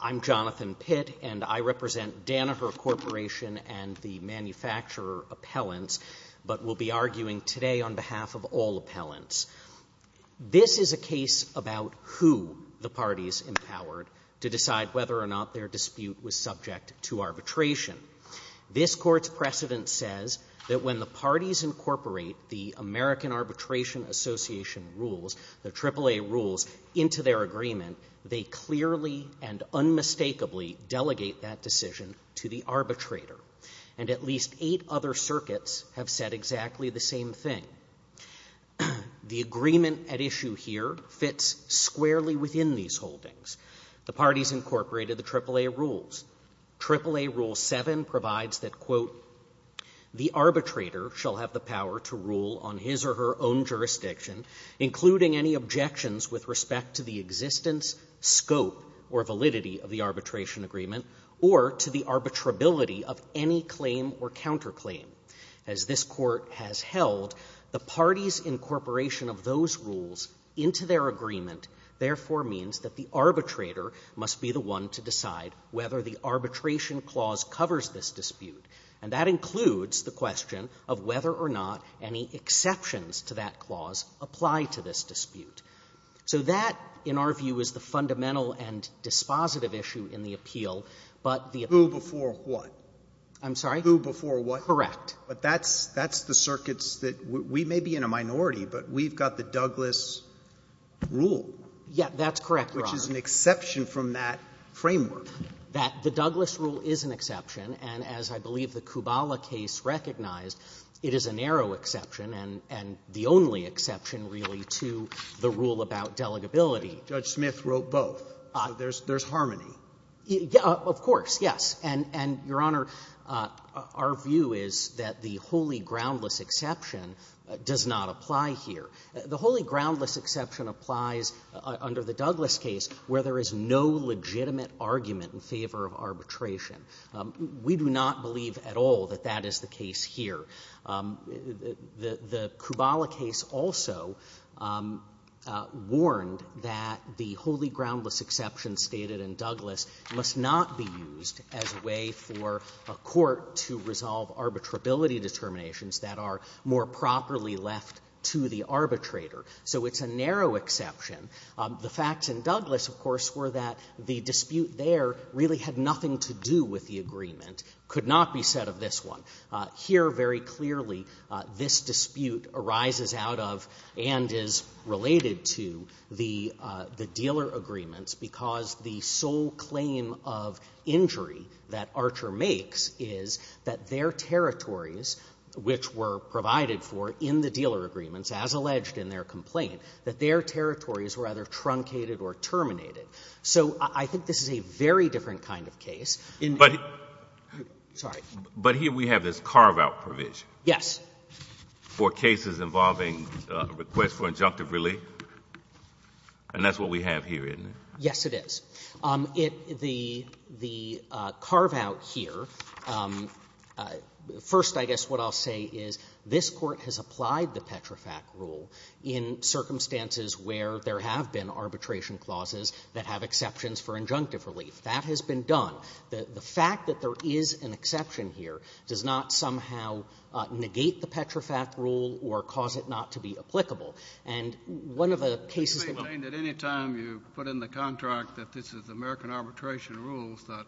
I'm Jonathan Pitt, and I represent Danaher Corporation and the Manufacturer Appellants, but will be arguing today on behalf of all appellants. This is a case about who the parties empowered to decide whether or not their dispute was subject to arbitration. This Court's precedent says that when the parties incorporate the American Arbitration Association rules, the AAA rules, into their agreement, they clearly and unmistakably delegate that decision to the arbitrator. And at least eight other circuits have said exactly the same thing. The agreement at issue here fits squarely within these holdings. The parties incorporated the AAA rules. AAA Rule 7 provides that, quote, the arbitrator shall have the power to rule on his or her own jurisdiction, including any objections with respect to the existence, scope, or validity of the arbitration agreement, or to the arbitrability of any claim or counterclaim. As this Court has held, the parties' incorporation of those rules into their agreement therefore means that the arbitrator must be the one to decide whether the arbitration clause covers this dispute. And that includes the question of whether or not any exceptions to that clause apply to this dispute. So that, in our view, is the fundamental and dispositive issue in the appeal, but the ---- Sotomayor, who before what? I'm sorry? Who before what? Correct. But that's the circuits that we may be in a minority, but we've got the Douglas Rule. Yeah, that's correct, Your Honor. Which is an exception from that framework. That the Douglas Rule is an exception, and as I believe the Kubala case recognized, it is a narrow exception and the only exception, really, to the rule about delegability. Judge Smith wrote both. So there's harmony. Of course, yes. And, Your Honor, our view is that the wholly groundless exception does not apply here. The wholly groundless exception applies under the Douglas case where there is no legitimate argument in favor of arbitration. We do not believe at all that that is the case here. The Kubala case also warned that the wholly groundless exception stated in Douglas must not be used as a way for a court to resolve arbitrability determinations that are more properly left to the arbitrator. So it's a narrow exception. The facts in Douglas, of course, were that the dispute there really had nothing to do with the agreement, could not be said of this one. Here, very clearly, this dispute arises out of and is related to the dealer agreements because the sole claim of injury that Archer makes is that their territories, which were provided for in the dealer agreements as alleged in their complaint, that their territories were either truncated or terminated. So I think this is a very different kind of case. But here we have this carve-out provision. Yes. For cases involving requests for injunctive relief? And that's what we have here, isn't it? Yes, it is. The carve-out here, first, I guess what I'll say is this Court has applied the Petrofac rule in circumstances where there have been arbitration clauses that have exceptions for injunctive relief. That has been done. The fact that there is an exception here does not somehow negate the Petrofac rule or cause it not to be applicable. And one of the cases that we... They claim that any time you put in the contract that this is American arbitration rules that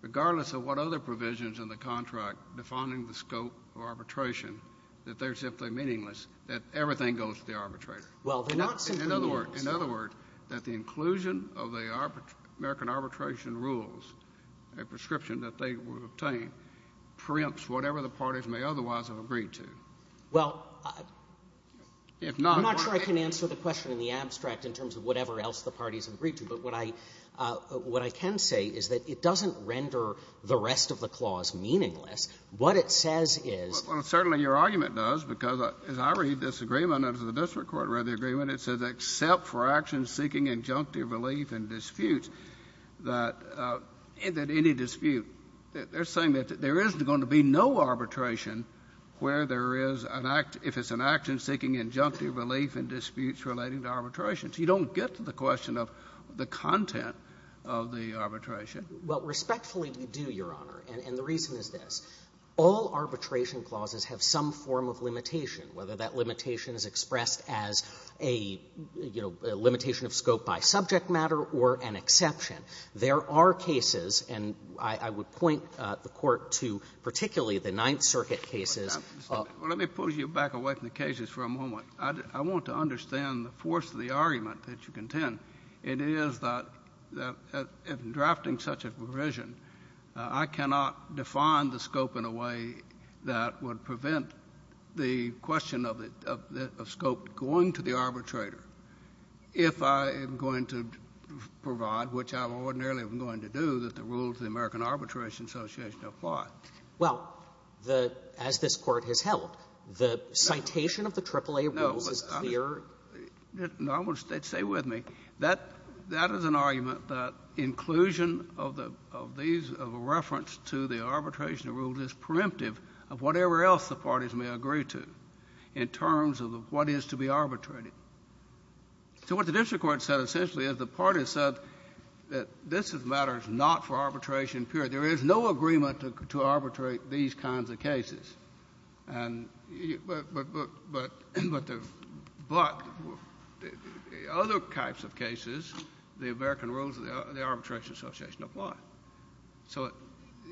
regardless of what other provisions in the contract defining the scope of arbitration, that they're simply meaningless, that everything goes to the arbitrator. Well, they're not simply meaningless. In other words, that the inclusion of the American arbitration rules, a prescription that they would obtain, preempts whatever the parties may otherwise have agreed to. Well, I'm not sure I can answer the question in the abstract in terms of whatever else the parties have agreed to. But what I can say is that it doesn't render the rest of the clause meaningless. What it says is... Well, certainly your argument does, because as I read this agreement, as the district court read the agreement, it says, except for actions seeking injunctive relief and disputes, that any dispute, they're saying that there is going to be no arbitration where there is an act, if it's an action seeking injunctive relief and disputes relating to arbitration. So you don't get to the question of the content of the arbitration. Well, respectfully, you do, Your Honor, and the reason is this. All arbitration clauses have some form of limitation, whether that limitation is expressed as a, you know, limitation of scope by subject matter or an exception. There are cases, and I would point the Court to particularly the Ninth Circuit cases of... Well, let me pull you back away from the cases for a moment. I want to understand the force of the argument that you contend. It is that, in drafting such a provision, I cannot define the scope in a way that would prevent the question of scope going to the arbitrator if I am going to provide, which I ordinarily am going to do, that the rules of the American Arbitration Association apply. Well, the — as this Court has held, the citation of the AAA rules is clear. No, I'm just — no, I want to — stay with me. That — that is an argument that inclusion of the — of these — of a reference to the arbitration rules is preemptive of whatever else the parties may agree to in terms of what is to be arbitrated. So what the district court said essentially is the parties said that this is a matter not for arbitration period. There is no agreement to arbitrate these kinds of cases. And — but — but — but — but the — but other types of cases, the American rules of the Arbitration Association apply. So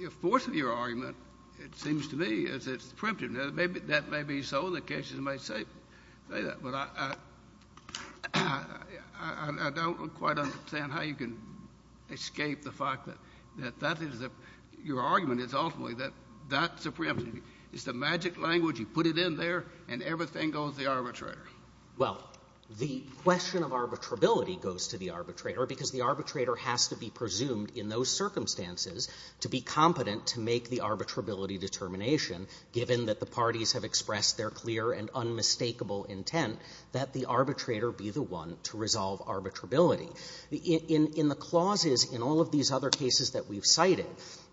the force of your argument, it seems to me, is it's preemptive. Now, maybe — that may be so. The cases may say — say that. But I — I — I don't quite understand how you can escape the fact that — that is a — your argument is ultimately that that's a preemptive. It's the magic language. You put it in there, and everything goes to the arbitrator. Well, the question of arbitrability goes to the arbitrator because the arbitrator has to be presumed in those circumstances to be competent to make the arbitrability determination, given that the parties have expressed their clear and unmistakable intent that the arbitrator be the one to resolve arbitrability. In — in — in the clauses in all of these other cases that we've cited,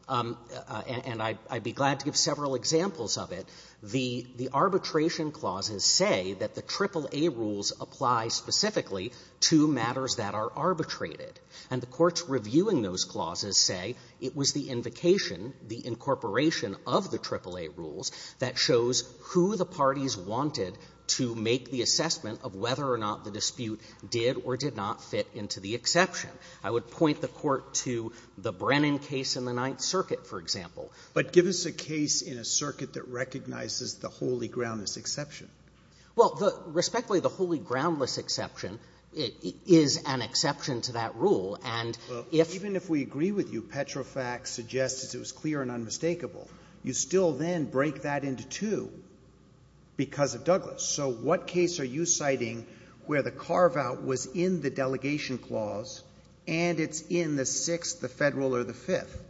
and I'd be glad to give several examples of it, the — the arbitration clauses say that the AAA rules apply specifically to matters that are arbitrated. And the courts reviewing those clauses say it was the invocation, the incorporation of the AAA rules that shows who the parties wanted to make the assessment of whether or not the dispute did or did not fit into the exception. I would point the Court to the Brennan case in the Ninth Circuit, for example. But give us a case in a circuit that recognizes the holy groundless exception. Well, the — respectfully, the holy groundless exception is an exception to that rule, and if — Well, even if we agree with you, Petrofax suggests it was clear and unmistakable. You still then break that into two because of Douglas. So what case are you citing where the carve-out was in the delegation clause and it's in the Sixth, the Federal, or the Fifth?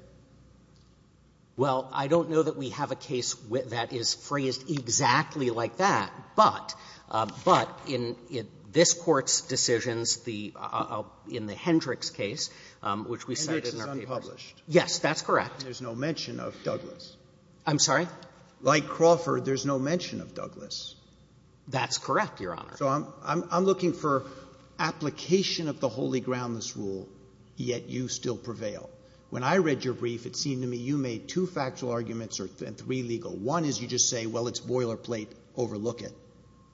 Well, I don't know that we have a case that is phrased exactly like that, but — but in — in this Court's decisions, the — in the Hendricks case, which we cited in our papers. Hendricks is unpublished. Yes, that's correct. And there's no mention of Douglas. I'm sorry? Like Crawford, there's no mention of Douglas. That's correct, Your Honor. So I'm — I'm looking for application of the holy groundless rule, yet you still prevail. When I read your brief, it seemed to me you made two factual arguments and three legal. One is you just say, well, it's boilerplate, overlook it.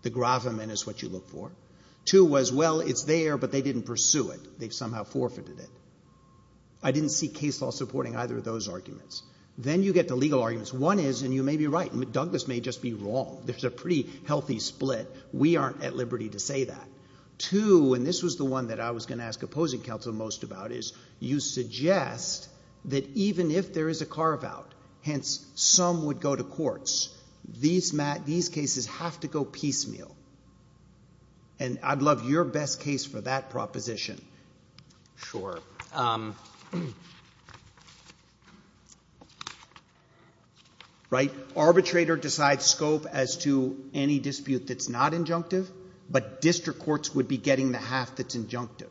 The gravamen is what you look for. Two was, well, it's there, but they didn't pursue it. They've somehow forfeited it. I didn't see case law supporting either of those arguments. Then you get the legal arguments. One is — and you may be right. Douglas may just be wrong. There's a pretty healthy split. We aren't at liberty to say that. Two, and this was the one that I was going to ask opposing counsel most about, is you suggest that even if there is a carve-out, hence some would go to courts, these cases have to go piecemeal. And I'd love your best case for that proposition. Sure. Right? Arbitrator decides scope as to any dispute that's not injunctive, but district courts would be getting the half that's injunctive.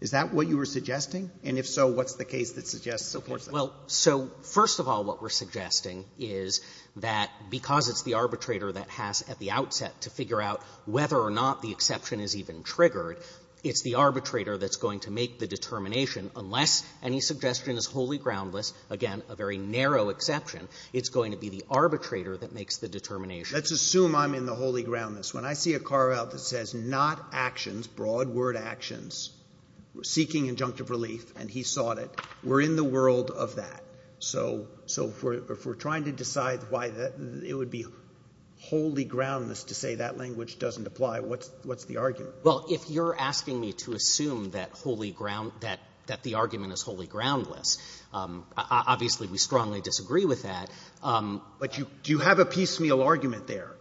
Is that what you were suggesting? And if so, what's the case that suggests supports that? Well, so first of all, what we're suggesting is that because it's the arbitrator that has at the outset to figure out whether or not the exception is even triggered, it's the arbitrator that's going to make the determination unless any suggestion is wholly groundless, again, a very narrow exception. It's going to be the arbitrator that makes the determination. Let's assume I'm in the wholly groundless. When I see a carve-out that says not actions, broad word actions, seeking injunctive relief, and he sought it, we're in the world of that. So if we're trying to decide why it would be wholly groundless to say that language doesn't apply, what's the argument? Well, if you're asking me to assume that wholly ground — that the argument is wholly groundless, obviously, we strongly disagree with that. But you — do you have a piecemeal argument there?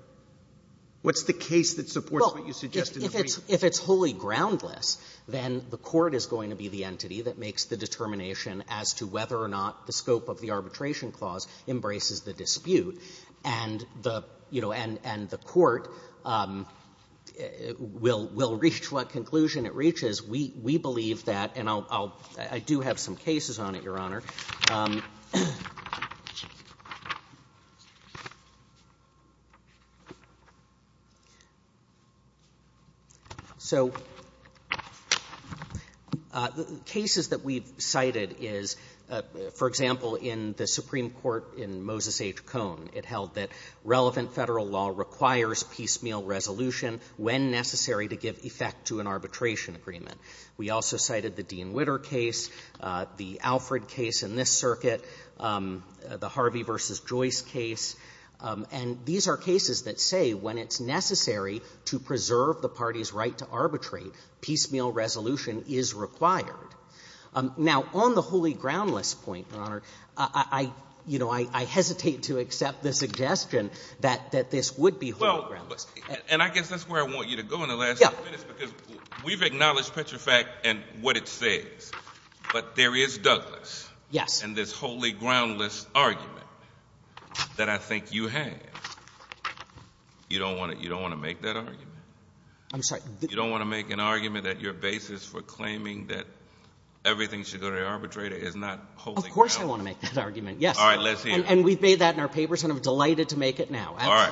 What's the case that supports what you suggested? Well, if it's — if it's wholly groundless, then the court is going to be the entity that makes the determination as to whether or not the scope of the Arbitration Clause embraces the dispute, and the — you know, and the court will — will make what conclusion it reaches. We — we believe that, and I'll — I do have some cases on it, Your Honor. So cases that we've cited is, for example, in the Supreme Court in Moses H. Cohn, it held that relevant federal law requires piecemeal resolution when necessary to give effect to an arbitration agreement. We also cited the Dean Witter case, the Alfred case in this circuit, the Harvey v. Joyce case, and these are cases that say when it's necessary to preserve the party's right to arbitrate, piecemeal resolution is required. Now, on the wholly groundless point, Your Honor, I — you know, I hesitate to accept the suggestion that — that this would be wholly groundless. And I guess that's where I want you to go in the last few minutes, because we've acknowledged Petrofax and what it says, but there is Douglas. Yes. And this wholly groundless argument that I think you have, you don't want to — you don't want to make that argument. I'm sorry. You don't want to make an argument that your basis for claiming that everything should go to the arbitrator is not wholly groundless. Of course I want to make that argument, yes. All right. Let's hear it. And we've made that in our papers, and I'm delighted to make it now. All right.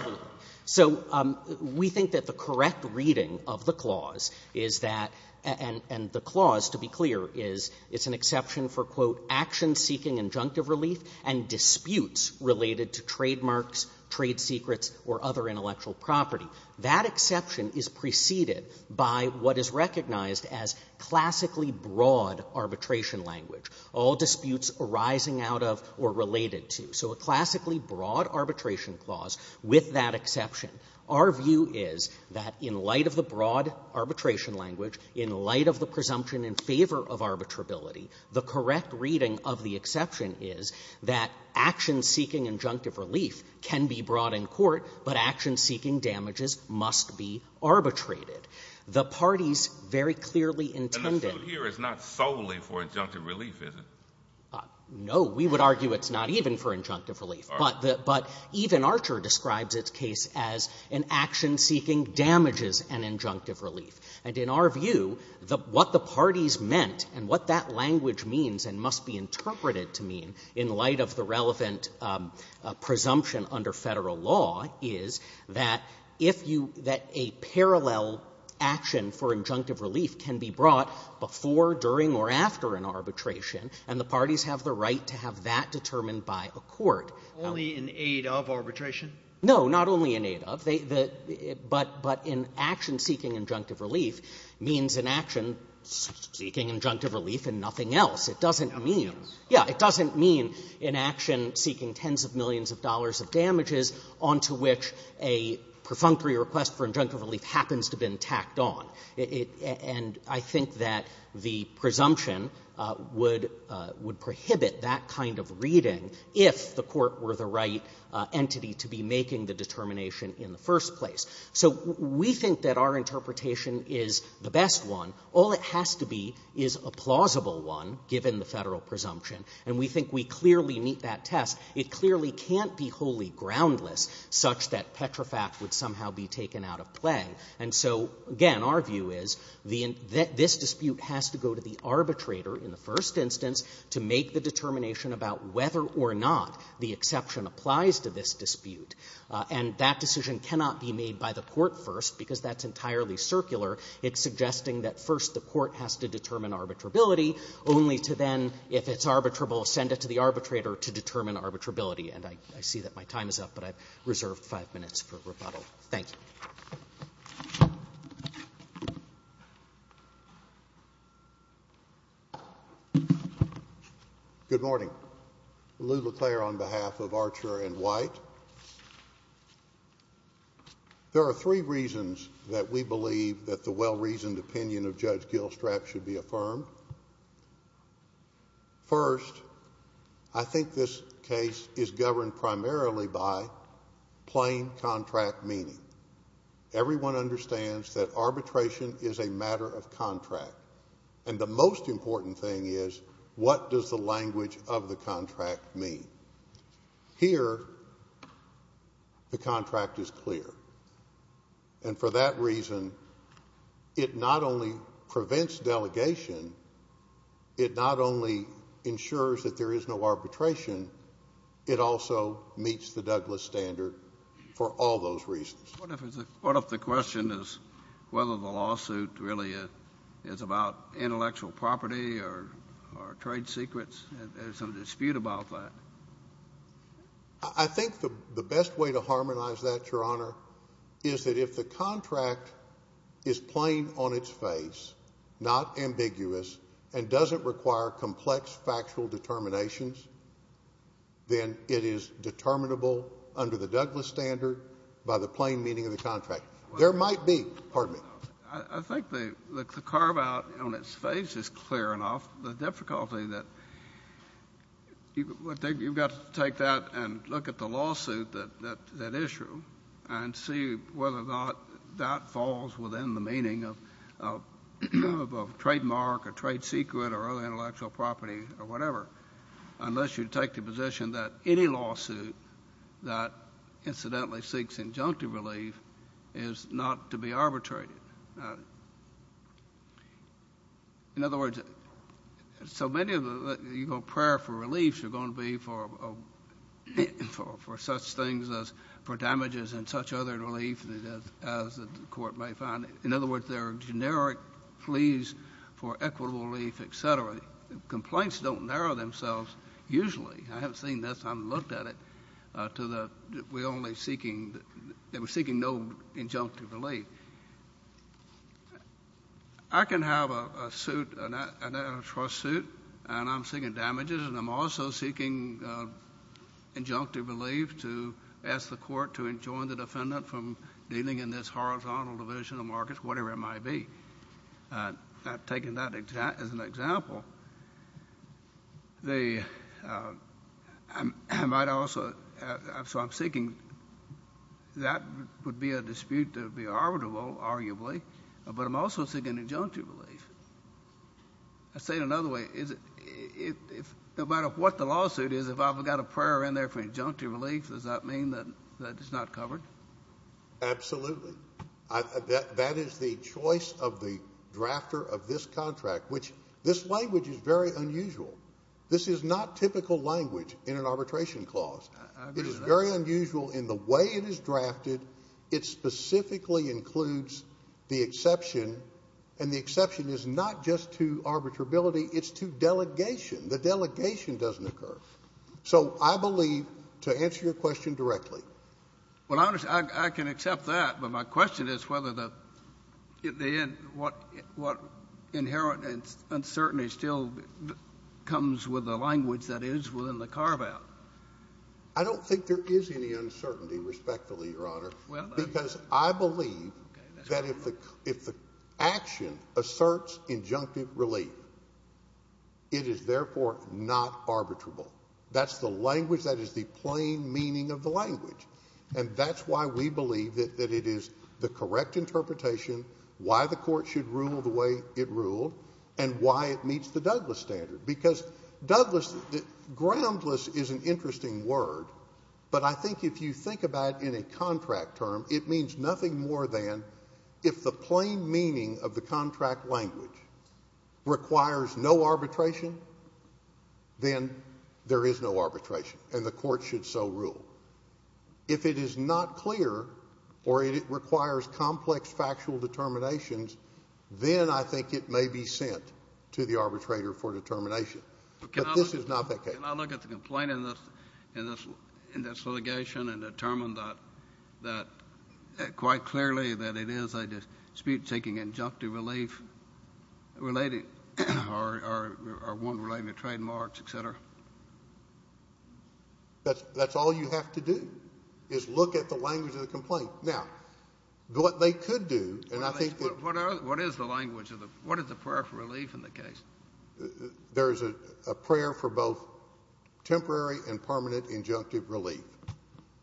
So we think that the correct reading of the clause is that — and the clause, to be clear, is it's an exception for, quote, action-seeking injunctive relief and disputes related to trademarks, trade secrets, or other intellectual property. That exception is preceded by what is recognized as classically broad arbitration language, all disputes arising out of or related to. So a classically broad arbitration clause with that exception. Our view is that in light of the broad arbitration language, in light of the presumption in favor of arbitrability, the correct reading of the exception is that action-seeking injunctive relief can be brought in court, but action-seeking damages must be arbitrated. The parties very clearly intended — And the suit here is not solely for injunctive relief, is it? No. We would argue it's not even for injunctive relief. All right. But even Archer describes its case as an action-seeking damages and injunctive relief. And in our view, what the parties meant and what that language means and must be interpreted to mean in light of the relevant presumption under Federal law is that if you — that a parallel action for injunctive relief can be brought before, during, or after an arbitration and the parties have the right to have that determined by a court — Only in aid of arbitration? No. Not only in aid of. They — but in action-seeking injunctive relief means an action seeking injunctive relief and nothing else. It doesn't mean — Yeah. It doesn't mean an action seeking tens of millions of dollars of damages onto which a perfunctory request for injunctive relief happens to be tacked on. And I think that the presumption would prohibit that kind of reading if the court were the right entity to be making the determination in the first place. So we think that our interpretation is the best one. All it has to be is a plausible one, given the Federal presumption. And we think we clearly meet that test. It clearly can't be wholly groundless such that petrifact would somehow be taken out of play. And so, again, our view is this dispute has to go to the arbitrator in the first instance to make the determination about whether or not the exception applies to this dispute. And that decision cannot be made by the court first because that's entirely circular. It's suggesting that first the court has to determine arbitrability, only to then, if it's arbitrable, send it to the arbitrator to determine arbitrability. And I see that my time is up, but I've reserved five minutes for rebuttal. Thanks. Good morning. Lou LeClair on behalf of Archer and White. There are three reasons that we believe that the well-reasoned opinion of Judge Gilstrap should be affirmed. First, I think this case is governed primarily by plain contract meaning. Everyone understands that arbitration is a matter of contract. And the most important thing is, what does the language of the contract mean? Here, the contract is clear. And for that reason, it not only prevents delegation, it not only ensures that there is no arbitration, it also meets the Douglas standard for all those reasons. What if the question is whether the lawsuit really is about intellectual property or trade secrets? There's some dispute about that. I think the best way to harmonize that, Your Honor, is that if the contract is plain on its face, not ambiguous, and doesn't require complex factual determinations, then it is determinable under the Douglas standard by the plain meaning of the contract. There might be. Pardon me. I think the carve-out on its face is clear enough. The difficulty that you've got to take that and look at the lawsuit, that issue, and see whether or not that falls within the meaning of trademark or trade secret or other intellectual property or whatever, unless you take the position that any lawsuit that incidentally seeks injunctive relief is not to be arbitrated. In other words, so many of the prayer for reliefs are going to be for things such as damages and such other relief as the court may find. In other words, there are generic pleas for equitable relief, et cetera. Complaints don't narrow themselves usually. I haven't seen this. I haven't looked at it. They were seeking no injunctive relief. I can have a suit, an antitrust suit, and I'm seeking damages, and I'm also seeking injunctive relief to ask the court to enjoin the defendant from dealing in this horizontal division of markets, whatever it might be. I've taken that as an example. So I'm seeking. That would be a dispute to be arbitrable, arguably, but I'm also seeking injunctive relief. I'll say it another way. No matter what the lawsuit is, if I've got a prayer in there for injunctive relief, does that mean that it's not covered? Absolutely. That is the choice of the drafter of this contract, which this language is very unusual. This is not typical language in an arbitration clause. It is very unusual in the way it is drafted. It specifically includes the exception, and the exception is not just to arbitrability. It's to delegation. The delegation doesn't occur. So I believe, to answer your question directly. Well, I can accept that, but my question is whether the inherent uncertainty still comes with the language that is within the carveout. I don't think there is any uncertainty, respectfully, Your Honor. Because I believe that if the action asserts injunctive relief, it is therefore not arbitrable. That's the language that is the plain meaning of the language. And that's why we believe that it is the correct interpretation, why the court should rule the way it ruled, and why it meets the Douglas standard. Because Douglas, groundless is an interesting word, but I think if you think about it in a contract term, it means nothing more than if the plain meaning of the contract language requires no arbitration, then there is no arbitration, and the court should so rule. If it is not clear or it requires complex factual determinations, then I think it may be sent to the arbitrator for determination. But this is not that case. I look at the complaint in this litigation and determine that quite clearly that it is a dispute seeking injunctive relief or one relating to trademarks, et cetera. That's all you have to do is look at the language of the complaint. Now, what they could do, and I think that— What is the language? What is the prayer for relief in the case? There is a prayer for both temporary and permanent injunctive relief.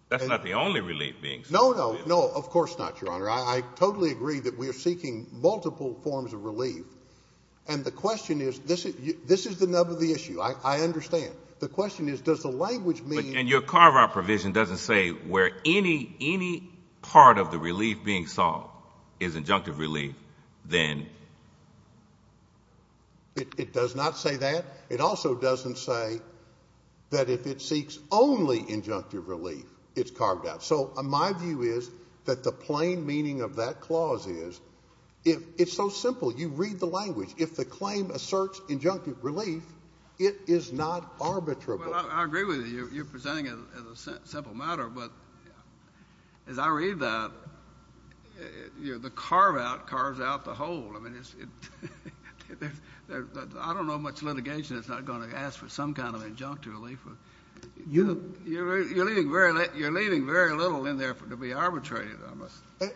That's not the only relief being sought. No, no, no, of course not, Your Honor. I totally agree that we are seeking multiple forms of relief, and the question is—this is the nub of the issue. I understand. The question is, does the language mean— And your carve-out provision doesn't say where any part of the relief being sought is injunctive relief, then? It does not say that. It also doesn't say that if it seeks only injunctive relief, it's carved out. So my view is that the plain meaning of that clause is—it's so simple. You read the language. If the claim asserts injunctive relief, it is not arbitrable. I agree with you. You're presenting it as a simple matter, but as I read that, the carve-out carves out the whole. I mean, I don't know how much litigation is not going to ask for some kind of injunctive relief. You're leaving very little in there to be arbitrated on.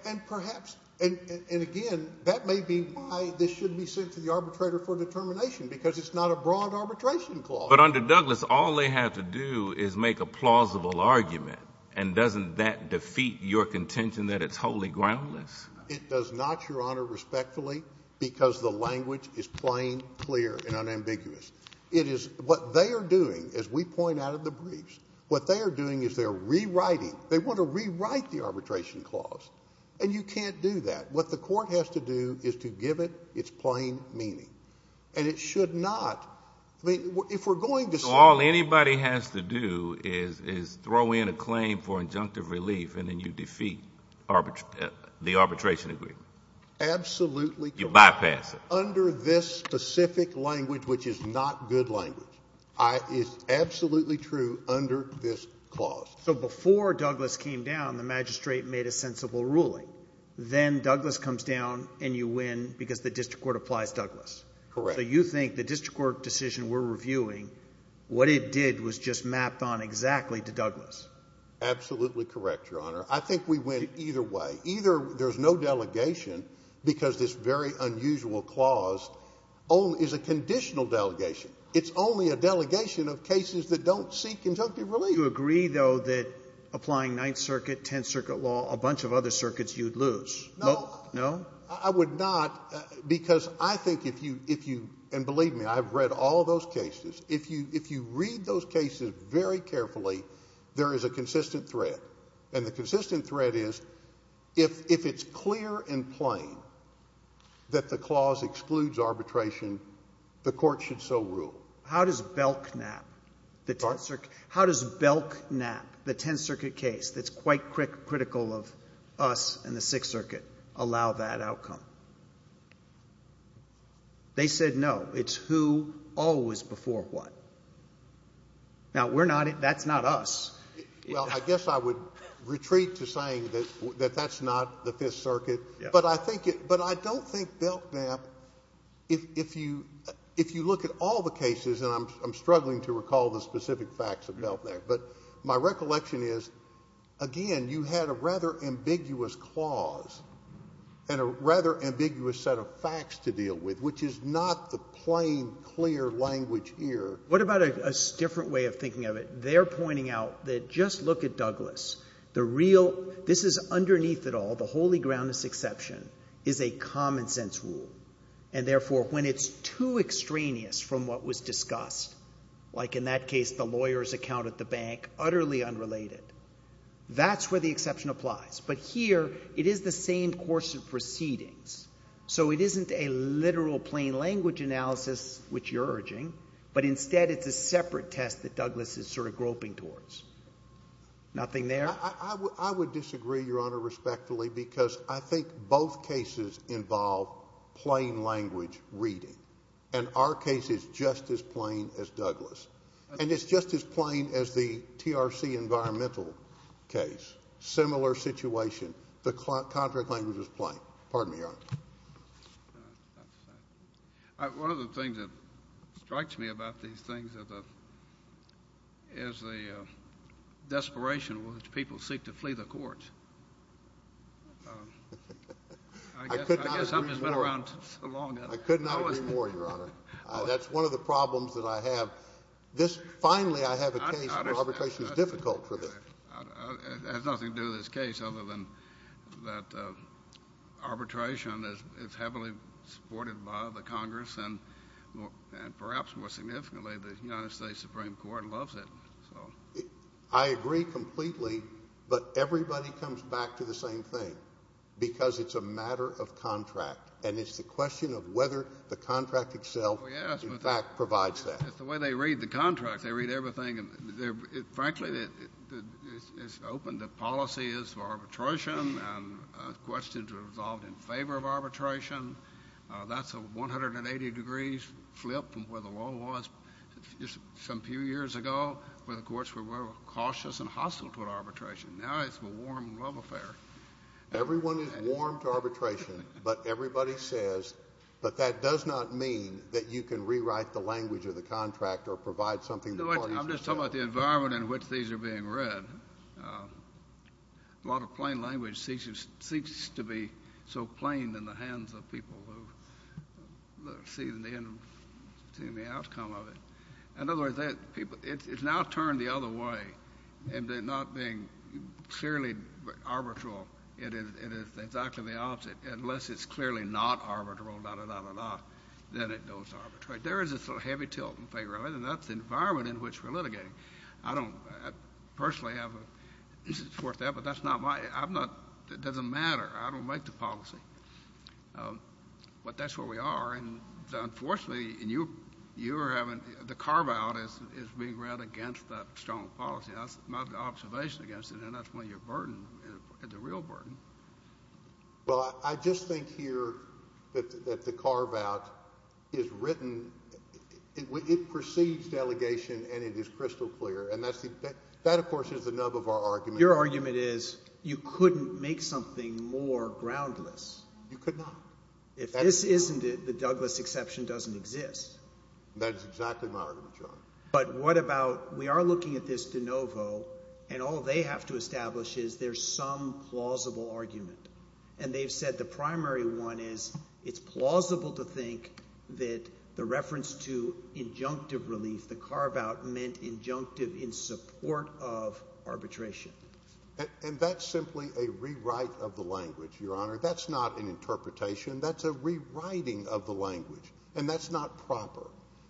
And perhaps—and again, that may be why this shouldn't be sent to the arbitrator for determination, because it's not a broad arbitration clause. But under Douglas, all they have to do is make a plausible argument, and doesn't that defeat your contention that it's wholly groundless? It does not, Your Honor, respectfully, because the language is plain, clear, and unambiguous. It is—what they are doing, as we point out in the briefs, what they are doing is they're rewriting—they want to rewrite the arbitration clause, and you can't do that. What the Court has to do is to give it its plain meaning, and it should not—I mean, if we're going to— All anybody has to do is throw in a claim for injunctive relief, and then you defeat the arbitration agreement. Absolutely. You bypass it. Under this specific language, which is not good language, is absolutely true under this clause. So before Douglas came down, the magistrate made a sensible ruling. Then Douglas comes down, and you win because the district court applies Douglas. Correct. So you think the district court decision we're reviewing, what it did was just mapped on exactly to Douglas? Absolutely correct, Your Honor. I think we win either way. Either there's no delegation, because this very unusual clause is a conditional delegation. It's only a delegation of cases that don't seek injunctive relief. Do you agree, though, that applying Ninth Circuit, Tenth Circuit law, a bunch of other circuits, you'd lose? No. No? I would not, because I think if you—and believe me, I've read all those cases. If you read those cases very carefully, there is a consistent threat. And the consistent threat is, if it's clear and plain that the clause excludes arbitration, the court should so rule. How does Belknap, the Tenth Circuit case that's quite critical of us and the Sixth Circuit, allow that outcome? They said no. It's who always before what. Now, we're not—that's not us. Well, I guess I would retreat to saying that that's not the Fifth Circuit. But I think—but I don't think Belknap, if you look at all the cases—and I'm struggling to recall the specific facts of Belknap—but my recollection is, again, you had a rather ambiguous clause and a rather ambiguous set of facts to deal with, which is not the plain, clear language here. What about a different way of thinking of it? They're pointing out that, just look at Douglas. The real—this is underneath it all, the holy groundless exception, is a common-sense rule. And therefore, when it's too extraneous from what was discussed, like in that case, the lawyer's account at the bank, utterly unrelated, that's where the exception applies. But here, it is the same course of proceedings. So it isn't a literal plain language analysis, which you're urging, but instead it's a separate test that Douglas is sort of groping towards. Nothing there? I would disagree, Your Honor, respectfully, because I think both cases involve plain language reading. And our case is just as plain as Douglas. And it's just as plain as the TRC environmental case. Similar situation. The contract language is plain. Pardon me, Your Honor. One of the things that strikes me about these things is the desperation with which people seek to flee the courts. I guess I've just been around so long— I could not agree more, Your Honor. That's one of the problems that I have. Finally, I have a case where arbitration is difficult for them. It has nothing to do with this case other than that arbitration is heavily supported by the Congress, and perhaps more significantly, the United States Supreme Court loves it. I agree completely, but everybody comes back to the same thing, because it's a matter of contract. And it's the question of whether the contract itself, in fact, provides that. It's the way they read the contract. They read everything. Frankly, it's open. The policy is for arbitration, and questions are resolved in favor of arbitration. That's a 180-degree flip from where the law was just some few years ago, where the courts were cautious and hostile to arbitration. Now it's a warm love affair. Everyone is warm to arbitration, but everybody says, but that does not mean that you can rewrite the language of the contract or provide something— No, I'm just talking about the environment in which these are being read. A lot of plain language seeks to be so plain in the hands of people who see the outcome of it. In other words, it's now turned the other way into not being clearly arbitral. It is exactly the opposite. Unless it's clearly not arbitral, da-da-da-da-da, then it goes arbitrary. There is this heavy tilt in favor of it, and that's the environment in which we're litigating. I don't personally have a—this is worth that, but that's not my—I'm not—it doesn't matter. I don't make the policy, but that's where we are. And unfortunately, you are having—the carve-out is being read against that strong policy. That's my observation against it, and that's when you're burdened, the real burden. Well, I just think here that the carve-out is written—it precedes delegation, and it is crystal clear. And that, of course, is the nub of our argument. Your argument is you couldn't make something more groundless. You could not. If this isn't it, the Douglas exception doesn't exist. That is exactly my argument, John. But what about—we are looking at this de novo, and all they have to establish is there's some plausible argument. And they've said the primary one is it's plausible to think that the reference to injunctive relief, the carve-out, meant injunctive in support of arbitration. And that's simply a rewrite of the language, Your Honor. That's not an interpretation. That's a rewriting of the language, and that's not proper.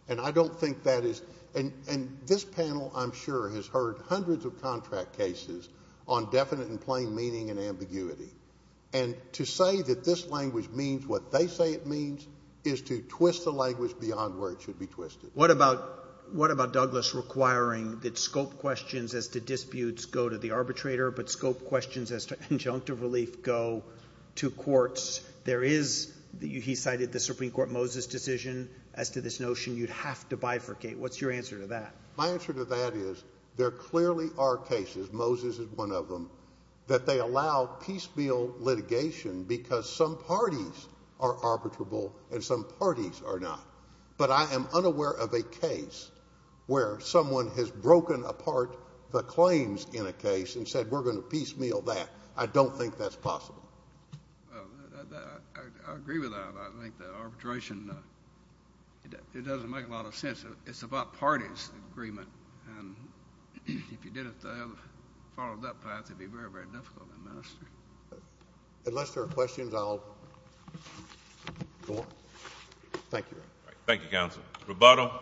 And I don't think that is—and this panel, I'm sure, has heard hundreds of contract cases on definite and plain meaning and ambiguity. And to say that this language means what they say it means is to twist the language beyond where it should be twisted. What about Douglas requiring that scope questions as to disputes go to the arbitrator, but scope questions as to injunctive relief go to courts? There is—he cited the Supreme Court Moses decision as to this notion you'd have to bifurcate. What's your answer to that? My answer to that is there clearly are cases—Moses is one of them—that they allow piecemeal litigation because some parties are arbitrable and some parties are not. But I am unaware of a case where someone has broken apart the claims in a case and said we're going to piecemeal that. I don't think that's possible. Well, I agree with that. I think that arbitration—it doesn't make a lot of sense. It's about parties' agreement. And if you didn't follow that path, it would be very, very difficult to administer. Unless there are questions, I'll go on. Thank you. Thank you, counsel. Rubato?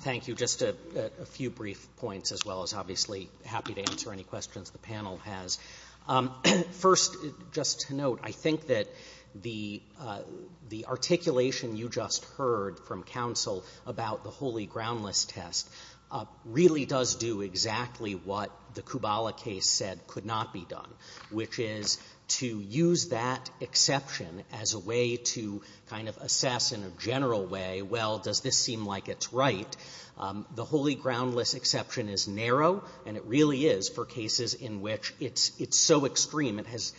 Thank you. Just a few brief points as well as obviously happy to answer any questions the panel has. First, just to note, I think that the articulation you just heard from counsel about the holy groundless test really does do exactly what the Kubala case said could not be done, which is to use that exception as a way to kind of assess in a general way, well, does this seem like it's right? The holy groundless exception is narrow, and it really is for cases in which it's so extreme it has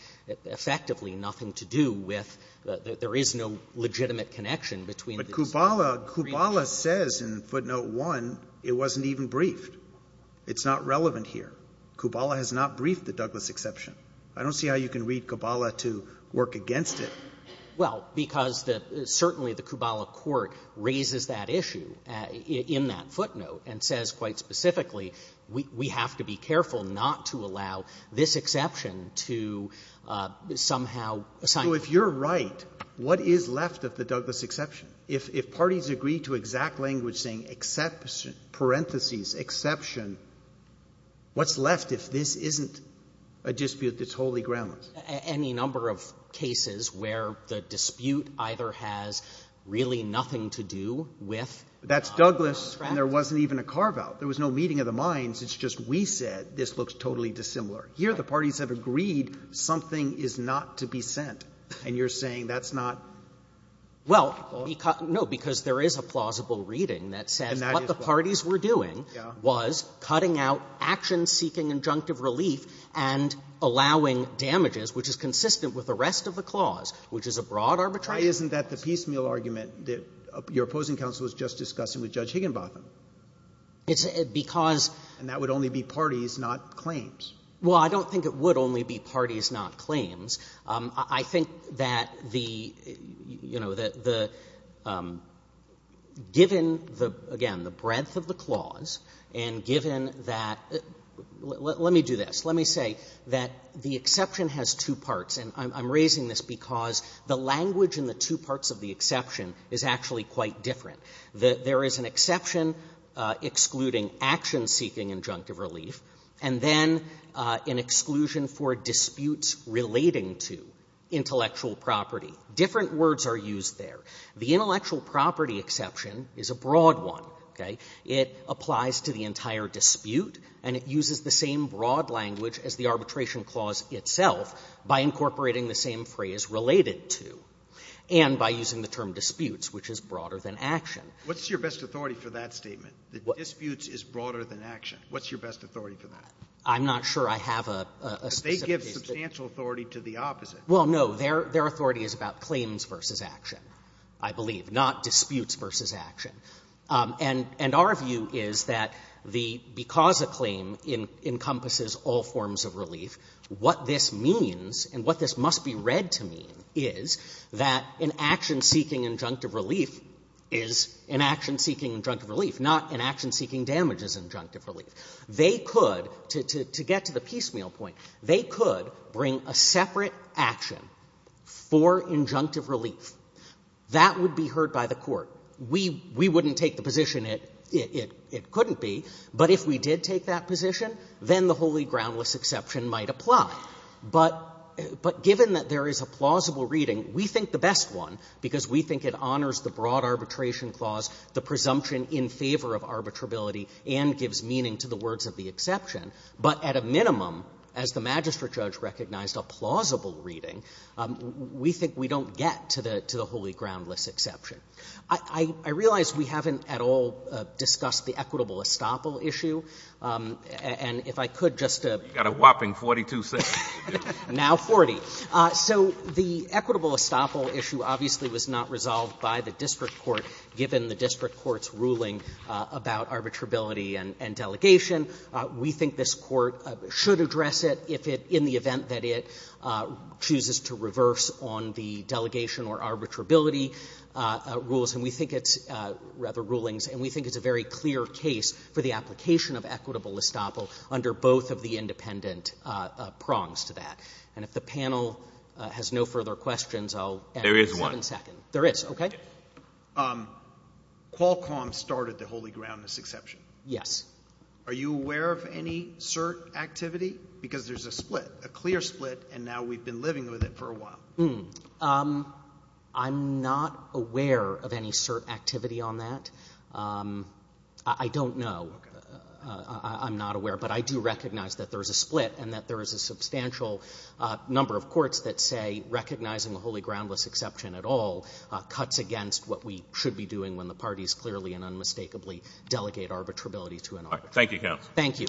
effectively nothing to do with the — there is no legitimate connection between the brief— But Kubala — Kubala says in Footnote 1 it wasn't even briefed. It's not relevant here. Kubala has not briefed the Douglas exception. I don't see how you can read Kubala to work against it. Well, because the — certainly the Kubala court raises that issue in that footnote and says quite specifically we have to be careful not to allow this exception to somehow— So if you're right, what is left of the Douglas exception? If — if parties agree to exact language saying exception, parentheses, exception, what's left if this isn't a dispute that's wholly groundless? Any number of cases where the dispute either has really nothing to do with— That's Douglas, and there wasn't even a carve-out. There was no meeting of the minds. It's just we said this looks totally dissimilar. Here the parties have agreed something is not to be sent, and you're saying that's not — Well, because — no, because there is a plausible reading that says what the parties were doing was cutting out action-seeking injunctive relief and allowing damages, which is consistent with the rest of the clause, which is a broad arbitration system. Why isn't that the piecemeal argument that your opposing counsel was just discussing with Judge Higginbotham? It's because— And that would only be parties, not claims. Well, I don't think it would only be parties, not claims. I think that the — you know, the — given, again, the breadth of the clause and given that — let me do this. Let me say that the exception has two parts, and I'm raising this because the language in the two parts of the exception is actually quite different. There is an exception excluding action-seeking injunctive relief, and then an exclusion for disputes relating to intellectual property. Different words are used there. The intellectual property exception is a broad one, okay? It applies to the entire dispute, and it uses the same broad language as the arbitration clause itself by incorporating the same phrase, related to, and by using the term disputes, which is broader than action. What's your best authority for that statement, that disputes is broader than action? What's your best authority for that? I'm not sure I have a specific — But they give substantial authority to the opposite. Well, no. Their authority is about claims versus action, I believe, not disputes versus action. And our view is that the — because a claim encompasses all forms of relief, what this means and what this must be read to mean is that an action-seeking injunctive relief is an action-seeking injunctive relief, not an action-seeking damages injunctive relief. They could, to get to the piecemeal point, they could bring a separate action for injunctive relief. That would be heard by the Court. We wouldn't take the position it couldn't be, but if we did take that position, then the wholly groundless exception might apply. But given that there is a plausible reading, we think the best one, because we think it honors the broad arbitration clause, the presumption in favor of arbitrability and gives meaning to the words of the exception, but at a minimum, as the magistrate judge recognized, a plausible reading, we think we don't get to the wholly groundless exception. I realize we haven't at all discussed the equitable estoppel issue, and if I could just — You've got a whopping 42 seconds to do this. Now 40. So the equitable estoppel issue obviously was not resolved by the district court given the district court's ruling about arbitrability and delegation. We think this court should address it if it — in the event that it chooses to reverse on the delegation or arbitrability rules, and we think it's — rather, rulings, and we think it's a very clear case for the application of equitable estoppel under both of the independent prongs to that. And if the panel has no further questions, I'll — There is one. There is, okay. Qualcomm started the wholly groundless exception. Yes. Are you aware of any cert activity? Because there's a split, a clear split, and now we've been living with it for a while. I'm not aware of any cert activity on that. I don't know. I'm not aware, but I do recognize that there's a split and that there is a substantial number of courts that say recognizing a wholly groundless exception at all cuts against what we should be doing when the parties clearly and unmistakably delegate arbitrability to an arbitrator. Thank you, counsel. Thank you.